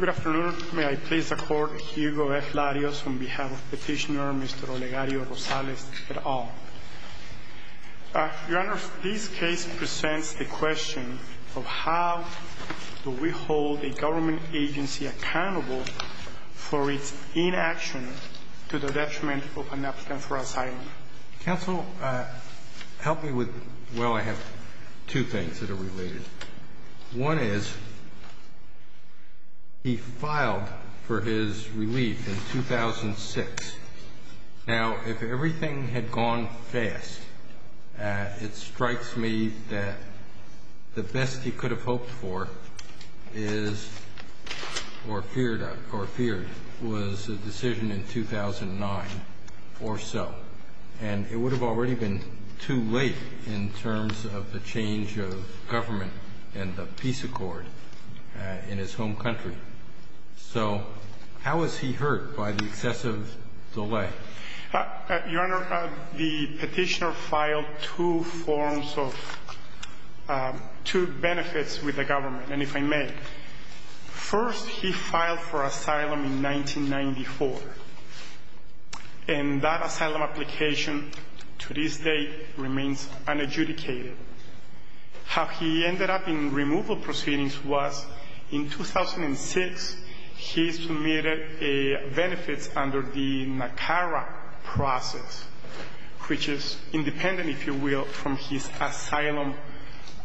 Good afternoon. May I please accord Hugo F. Larios on behalf of Petitioner Mr. Olegario Rosales et al. Your Honor, this case presents the question of how do we hold a government agency accountable for its inaction to the detriment of an applicant for asylum. Counsel, help me with, well, I have two things that are related. One is he filed for his relief in 2006. Now, if everything had gone fast, it strikes me that the best he could have hoped for is or feared was a decision in 2009 or so. And it would have already been too late in terms of the change of government and the peace accord in his home country. So how is he hurt by the excessive delay? Your Honor, the petitioner filed two forms of, two benefits with the government. And if I may, first he filed for asylum in 1994. And that asylum application to this day remains unadjudicated. How he ended up in removal proceedings was in 2006 he submitted benefits under the NACARA process, which is independent, if you will, from his asylum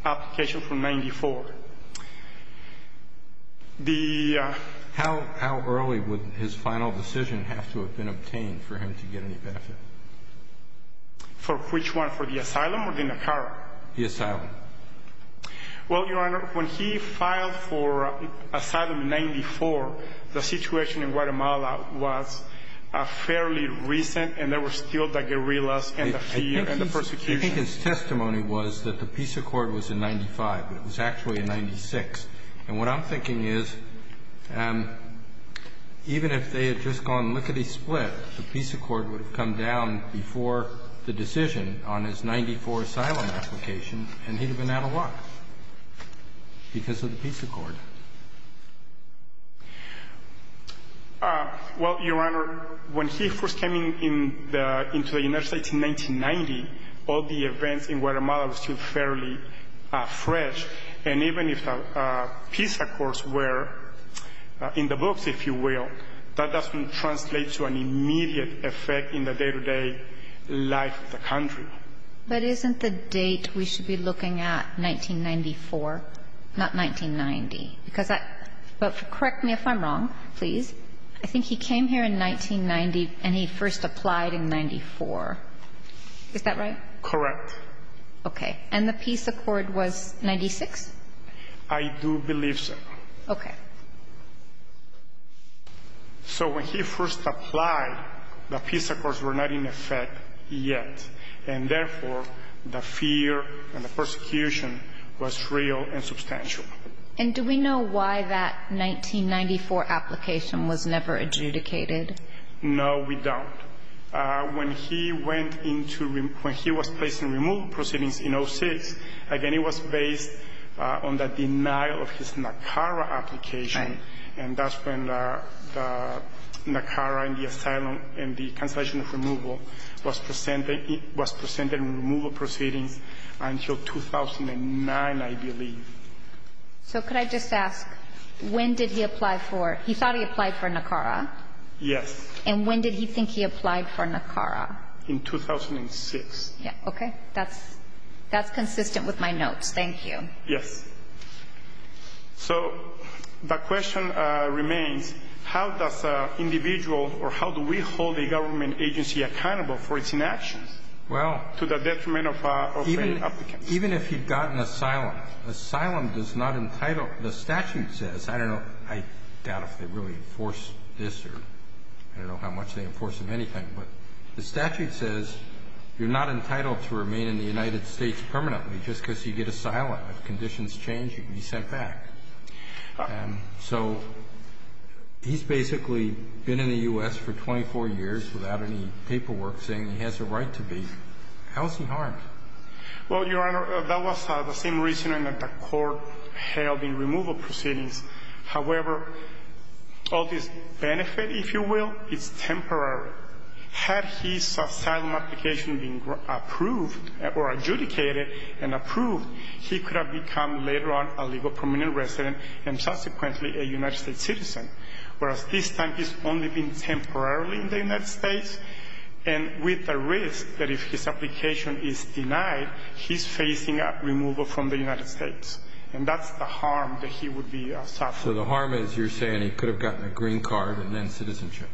application from 1994. The How early would his final decision have to have been obtained for him to get any benefit? For which one, for the asylum or the NACARA? The asylum. Well, Your Honor, when he filed for asylum in 94, the situation in Guatemala was fairly recent and there were still the guerrillas and the fear and the persecution. I think his testimony was that the peace accord was in 95. It was actually in 96. And what I'm thinking is even if they had just gone lickety split, the peace accord would have come down before the decision on his 94 asylum application and he would have been out of luck because of the peace accord. Well, Your Honor, when he first came into the United States in 1990, all the events in Guatemala were still fairly fresh. And even if the peace accords were in the books, if you will, that doesn't translate to an immediate effect in the day-to-day life of the country. But isn't the date we should be looking at 1994, not 1990? Because that – but correct me if I'm wrong, please. I think he came here in 1990 and he first applied in 94. Is that right? Correct. Okay. And the peace accord was 96? I do believe so. Okay. So when he first applied, the peace accords were not in effect yet. And therefore, the fear and the persecution was real and substantial. And do we know why that 1994 application was never adjudicated? No, we don't. When he went into – when he was placed in removal proceedings in 06, again, it was based on the denial of his NACARA application. Right. And that's when the NACARA and the asylum and the cancellation of removal was presented in removal proceedings until 2009, I believe. So could I just ask, when did he apply for – he thought he applied for NACARA? Yes. And when did he think he applied for NACARA? In 2006. Okay. That's consistent with my notes. Thank you. Yes. So the question remains, how does an individual or how do we hold a government agency accountable for its inaction? Well – To the detriment of an applicant. Even if he'd gotten asylum, asylum does not entitle – the statute says – I don't know. I doubt if they really enforce this or – I don't know how much they enforce of anything. But the statute says you're not entitled to remain in the United States permanently just because you get asylum. If conditions change, you can be sent back. So he's basically been in the U.S. for 24 years without any paperwork saying he has a right to be. How is he harmed? Well, Your Honor, that was the same reasoning that the court held in removal proceedings. However, all this benefit, if you will, is temporary. Had his asylum application been approved or adjudicated and approved, he could have become later on a legal permanent resident and subsequently a United States citizen. Whereas this time he's only been temporarily in the United States, and with the risk that if his application is denied, he's facing removal from the United States. And that's the harm that he would be suffering. So the harm is you're saying he could have gotten a green card and then citizenship.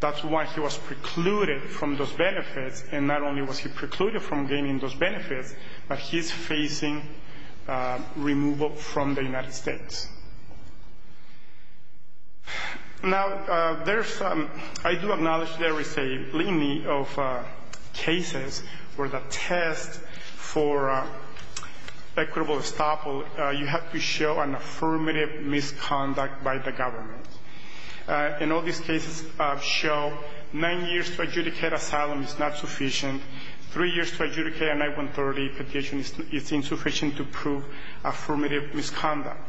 That's why he was precluded from those benefits. And not only was he precluded from gaining those benefits, but he's facing removal from the United States. Now, there's some – I do acknowledge there is a plenty of cases where the test for equitable estoppel, you have to show an affirmative misconduct by the government. And all these cases show nine years to adjudicate asylum is not sufficient. Three years to adjudicate a 9-130 petition is insufficient to prove affirmative misconduct.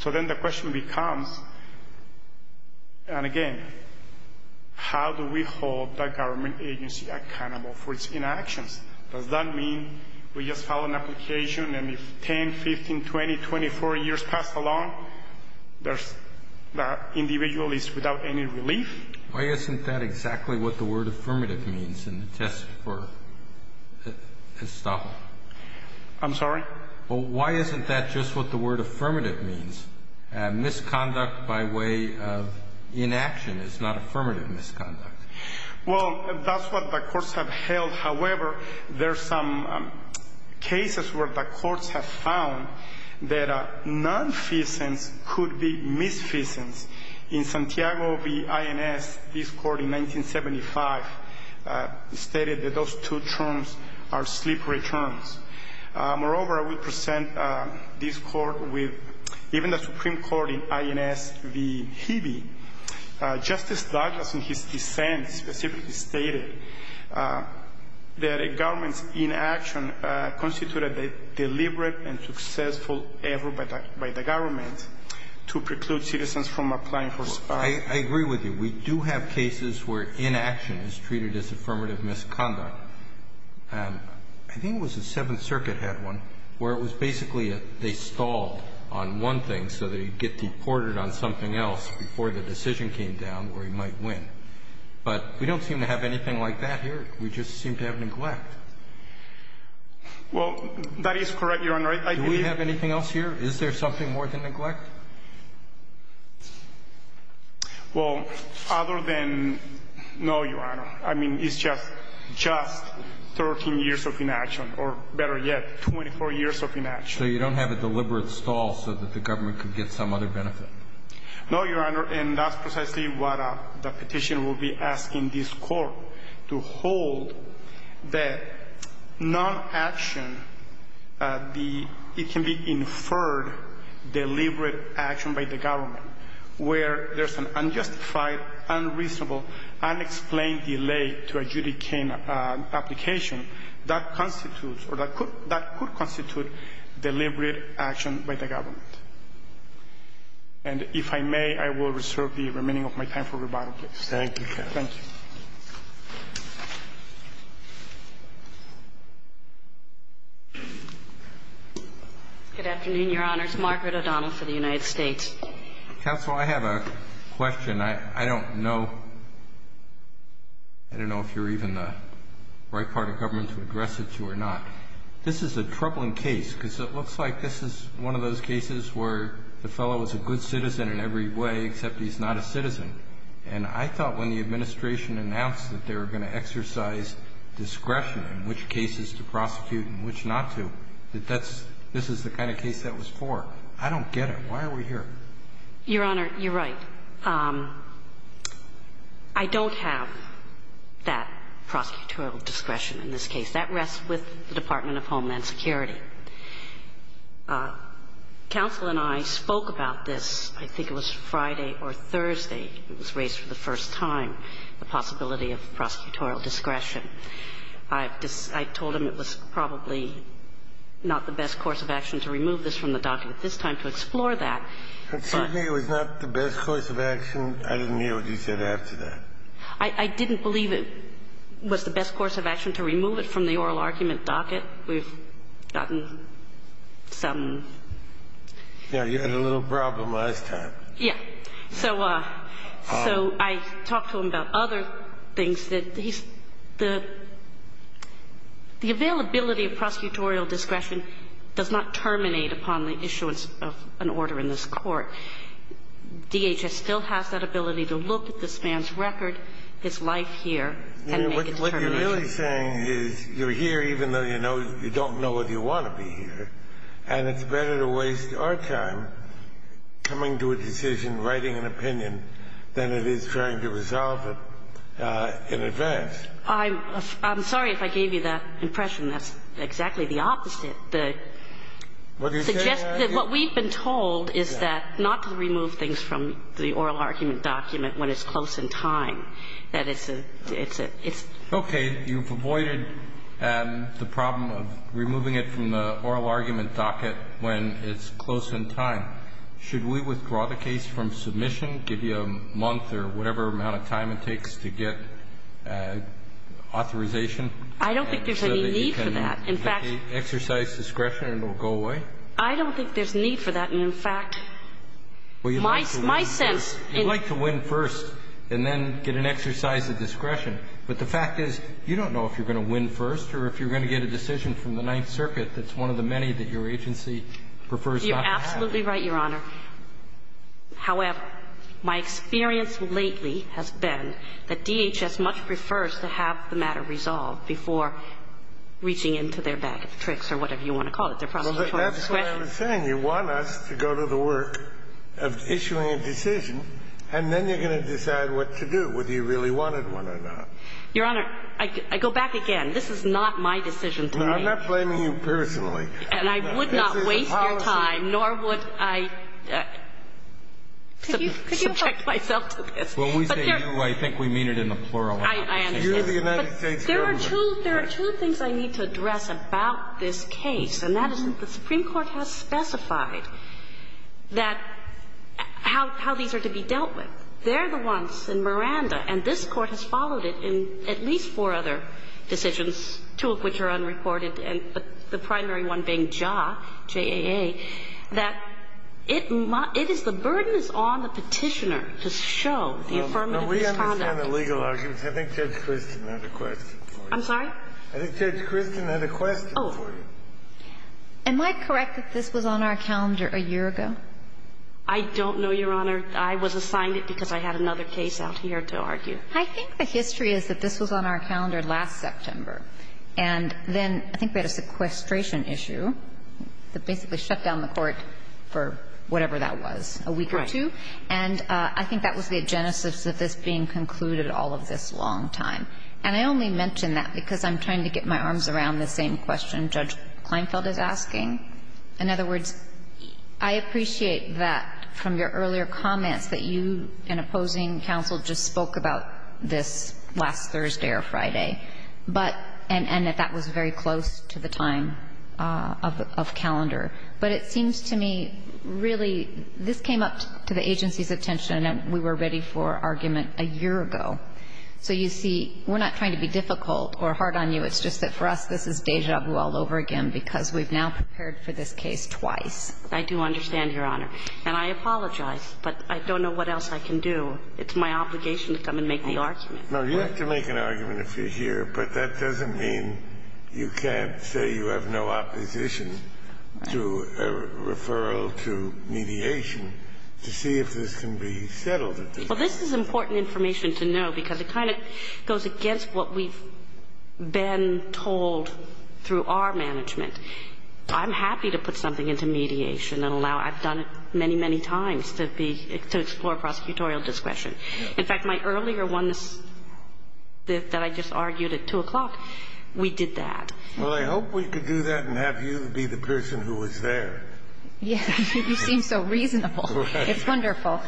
So then the question becomes, and again, how do we hold the government agency accountable for its inactions? Does that mean we just file an application and if 10, 15, 20, 24 years pass along, the individual is without any relief? Why isn't that exactly what the word affirmative means in the test for estoppel? I'm sorry? Why isn't that just what the word affirmative means? Misconduct by way of inaction is not affirmative misconduct. Well, that's what the courts have held. However, there are some cases where the courts have found that nonfeasance could be misfeasance. In Santiago v. INS, this court in 1975 stated that those two terms are slippery terms. Moreover, I will present this court with even the Supreme Court in INS v. Hebe. Justice Douglas, in his dissent, specifically stated that a government's inaction constituted a deliberate and successful effort by the government to preclude citizens from applying for asylum. I agree with you. We do have cases where inaction is treated as affirmative misconduct. I think it was the Seventh Circuit had one where it was basically they stalled on one thing so that he'd get deported on something else before the decision came down where he might win. But we don't seem to have anything like that here. We just seem to have neglect. Well, that is correct, Your Honor. Do we have anything else here? Is there something more than neglect? Well, other than no, Your Honor. I mean, it's just 13 years of inaction, or better yet, 24 years of inaction. So you don't have a deliberate stall so that the government could get some other benefit? No, Your Honor, and that's precisely what the petition will be asking this court, to hold that non-action, it can be inferred deliberate action by the government, where there's an unjustified, unreasonable, unexplained delay to adjudicate an application that constitutes or that could constitute deliberate action by the government. And if I may, I will reserve the remaining of my time for rebuttal, please. Thank you, Your Honor. Thank you. Good afternoon, Your Honors. Margaret O'Donnell for the United States. Counsel, I have a question. I don't know if you're even the right part of government to address it to or not. This is a troubling case because it looks like this is one of those cases where the fellow is a good citizen in every way except he's not a citizen. And I thought when the administration announced that they were going to exercise discretion in which cases to prosecute and which not to, that that's the kind of case that was for. I don't get it. Why are we here? Your Honor, you're right. I don't have that prosecutorial discretion in this case. That rests with the Department of Homeland Security. Counsel and I spoke about this, I think it was Friday or Thursday, it was raised for the first time, the possibility of prosecutorial discretion. I told him it was probably not the best course of action to remove this from the docket at this time to explore that. But certainly it was not the best course of action. I didn't hear what you said after that. I didn't believe it was the best course of action to remove it from the oral argument docket. We've gotten some. Yeah, you had a little problem last time. Yeah. So I talked to him about other things. The availability of prosecutorial discretion does not terminate upon the issuance of an order in this Court. DHS still has that ability to look at this man's record, his life here, and make a determination. What you're really saying is you're here even though you don't know if you want to be here, and it's better to waste our time coming to a decision, writing an opinion, than it is trying to resolve it in advance. I'm sorry if I gave you that impression. That's exactly the opposite. What we've been told is that not to remove things from the oral argument document when it's close in time. That it's a, it's a, it's. Okay. You've avoided the problem of removing it from the oral argument docket when it's close in time. Should we withdraw the case from submission, give you a month or whatever amount of time it takes to get authorization? I don't think there's any need for that. In fact. Exercise discretion and it will go away? I don't think there's need for that. In fact, my sense. You'd like to win first and then get an exercise of discretion. But the fact is you don't know if you're going to win first or if you're going to get a decision from the Ninth Circuit that's one of the many that your agency prefers not to have. You're absolutely right, Your Honor. However, my experience lately has been that DHS much prefers to have the matter resolved before reaching into their bag of tricks or whatever you want to call it. And that's what I'm saying. You want us to go to the work of issuing a decision and then you're going to decide what to do, whether you really wanted one or not. Your Honor, I go back again. This is not my decision to make. I'm not blaming you personally. And I would not waste your time, nor would I subject myself to this. When we say you, I think we mean it in the plural. You're the United States government. There are two things I need to address about this case, and that is the Supreme Court has specified that how these are to be dealt with. They're the ones in Miranda, and this Court has followed it in at least four other decisions, two of which are unreported, and the primary one being JAA, J-A-A, that it is the burden is on the Petitioner to show the affirmative conduct. I'm sorry? I think Judge Kristen had a question for you. Oh. Am I correct that this was on our calendar a year ago? I don't know, Your Honor. I was assigned it because I had another case out here to argue. I think the history is that this was on our calendar last September, and then I think we had a sequestration issue that basically shut down the Court for whatever that was, a week or two. Right. And I think that was the genesis of this being concluded all of this long time. And I only mention that because I'm trying to get my arms around the same question Judge Kleinfeld is asking. In other words, I appreciate that from your earlier comments that you and opposing counsel just spoke about this last Thursday or Friday, but and that that was very close to the time of calendar. But it seems to me, really, this came up to the agency's attention, and we were ready for argument a year ago. So you see, we're not trying to be difficult or hard on you. It's just that for us, this is deja vu all over again because we've now prepared for this case twice. I do understand, Your Honor. And I apologize, but I don't know what else I can do. It's my obligation to come and make the argument. No, you have to make an argument if you're here, but that doesn't mean you can't say you have no opposition to a referral to mediation to see if this can be settled at the court. Well, this is important information to know because it kind of goes against what we've been told through our management. I'm happy to put something into mediation and allow – I've done it many, many times to be – to explore prosecutorial discretion. In fact, my earlier one that I just argued at 2 o'clock, we did that. Well, I hope we could do that and have you be the person who was there. Yes. You seem so reasonable. It's wonderful.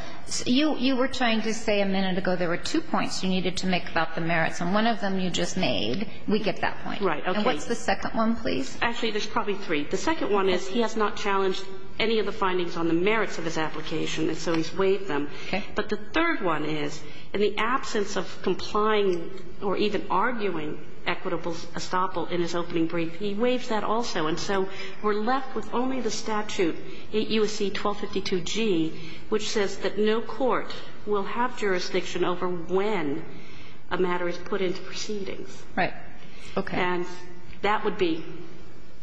You were trying to say a minute ago there were two points you needed to make about the merits, and one of them you just made. We get that point. Right. Okay. And what's the second one, please? Actually, there's probably three. The second one is he has not challenged any of the findings on the merits of his application, and so he's waived them. Okay. But the third one is in the absence of complying or even arguing equitable estoppel in his opening brief, he waives that also. And so we're left with only the statute, 8 U.S.C. 1252G, which says that no court will have jurisdiction over when a matter is put into proceedings. Right. Okay. And that would be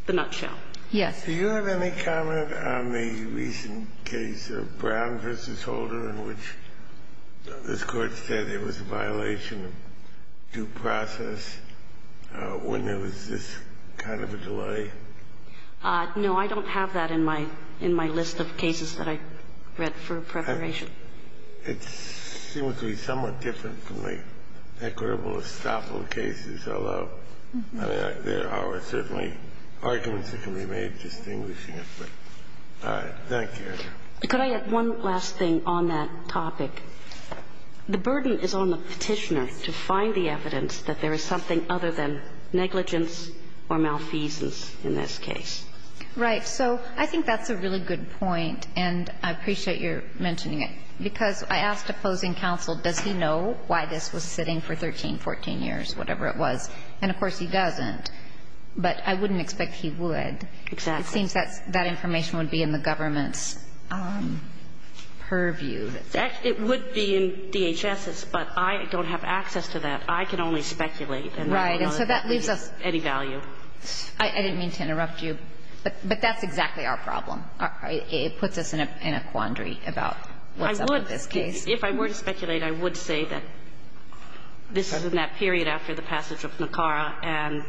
the nutshell. Yes. Do you have any comment on the recent case of Brown v. Holder in which this Court said it was a violation of due process when there was this kind of a delay? No. I don't have that in my list of cases that I read for preparation. It seems to be somewhat different from the equitable estoppel cases, although there are certainly arguments that can be made distinguishing it. But thank you. Could I add one last thing on that topic? The burden is on the Petitioner to find the evidence that there is something other than negligence or malfeasance in this case. Right. So I think that's a really good point, and I appreciate your mentioning it, because I asked opposing counsel, does he know why this was sitting for 13, 14 years, whatever it was? And, of course, he doesn't. But I wouldn't expect he would. Exactly. It seems that that information would be in the government's purview. It would be in DHS's, but I don't have access to that. I can only speculate. Right. And so that leaves us any value. I didn't mean to interrupt you, but that's exactly our problem. It puts us in a quandary about what's up with this case. I would, if I were to speculate, I would say that this is in that period after the passage of NACARA, and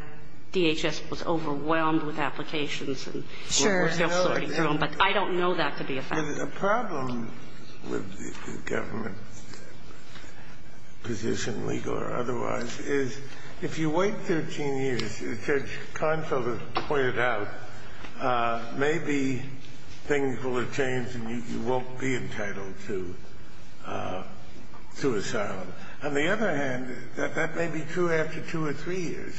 DHS was overwhelmed with applications. Sure. But I don't know that to be a fact. The problem with the government position, legal or otherwise, is if you wait 13 years, as Judge Confield has pointed out, maybe things will have changed and you won't be entitled to asylum. On the other hand, that may be true after two or three years.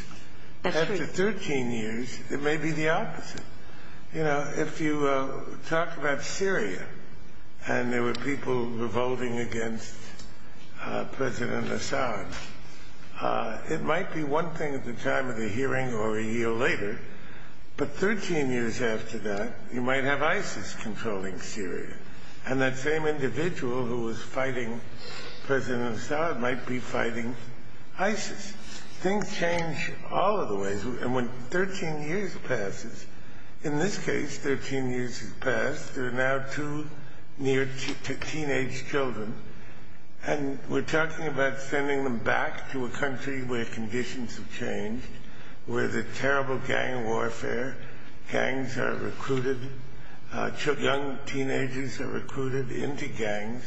That's true. After 13 years, it may be the opposite. You know, if you talk about Syria and there were people revolting against President Assad, it might be one thing at the time of the hearing or a year later. But 13 years after that, you might have ISIS controlling Syria. And that same individual who was fighting President Assad might be fighting ISIS. Things change all of the ways. And when 13 years passes, in this case, 13 years has passed. There are now two teenage children. And we're talking about sending them back to a country where conditions have changed, where there's terrible gang warfare. Gangs are recruited. Young teenagers are recruited into gangs.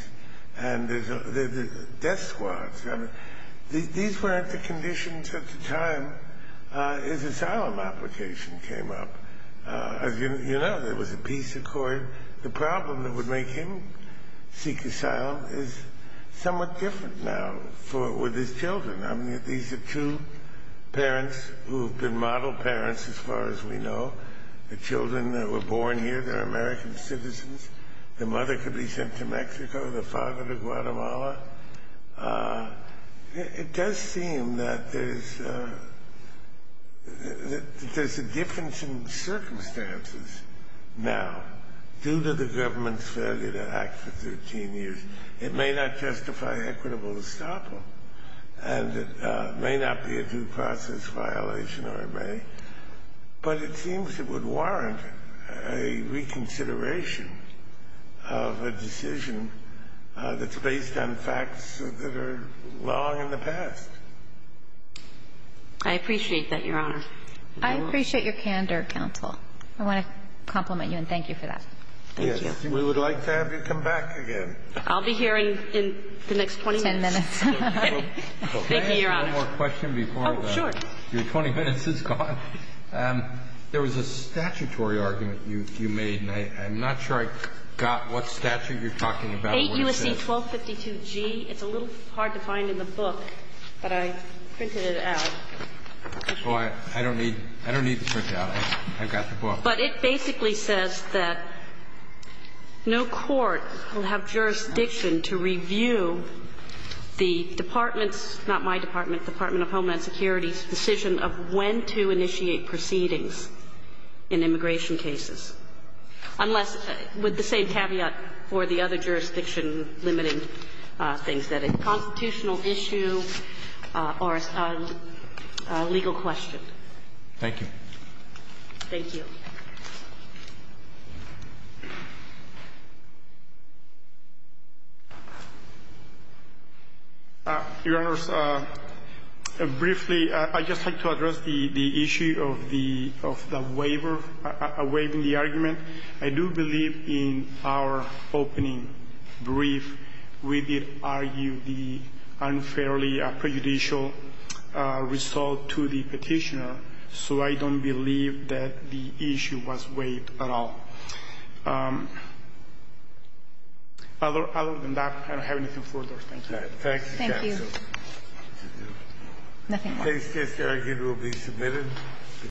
And there's death squads. These weren't the conditions at the time an asylum application came up. As you know, there was a peace accord. The problem that would make him seek asylum is somewhat different now with his children. I mean, these are two parents who have been model parents as far as we know. The children that were born here, they're American citizens. The mother could be sent to Mexico. The father to Guatemala. It does seem that there's a difference in circumstances now due to the government's failure to act for 13 years. It may not testify equitable estoppel. And it may not be a due process violation, or it may. But it seems it would warrant a reconsideration of a decision that's based on facts that are long in the past. I appreciate that, Your Honor. I appreciate your candor, counsel. I want to compliment you and thank you for that. Thank you. We would like to have you come back again. I'll be here in the next 20 minutes. Ten minutes. Thank you, Your Honor. One more question before your 20 minutes is gone. There was a statutory argument you made, and I'm not sure I got what statute you're talking about. 8 U.S.C. 1252G. It's a little hard to find in the book, but I printed it out. I don't need to print it out. I've got the book. But it basically says that no court will have jurisdiction to review the department's not my department, Department of Homeland Security's decision of when to initiate proceedings in immigration cases. Unless, with the same caveat for the other jurisdiction limiting things, that it's a constitutional issue or a legal question. Thank you. Thank you. Your Honor, briefly, I'd just like to address the issue of the waiver, waiving the argument. I do believe in our opening brief we did argue the unfairly prejudicial result to the Petitioner. So I don't believe that the issue was waived at all. Other than that, I don't have anything further. Thank you. Thank you. Nothing more. This case here will be submitted.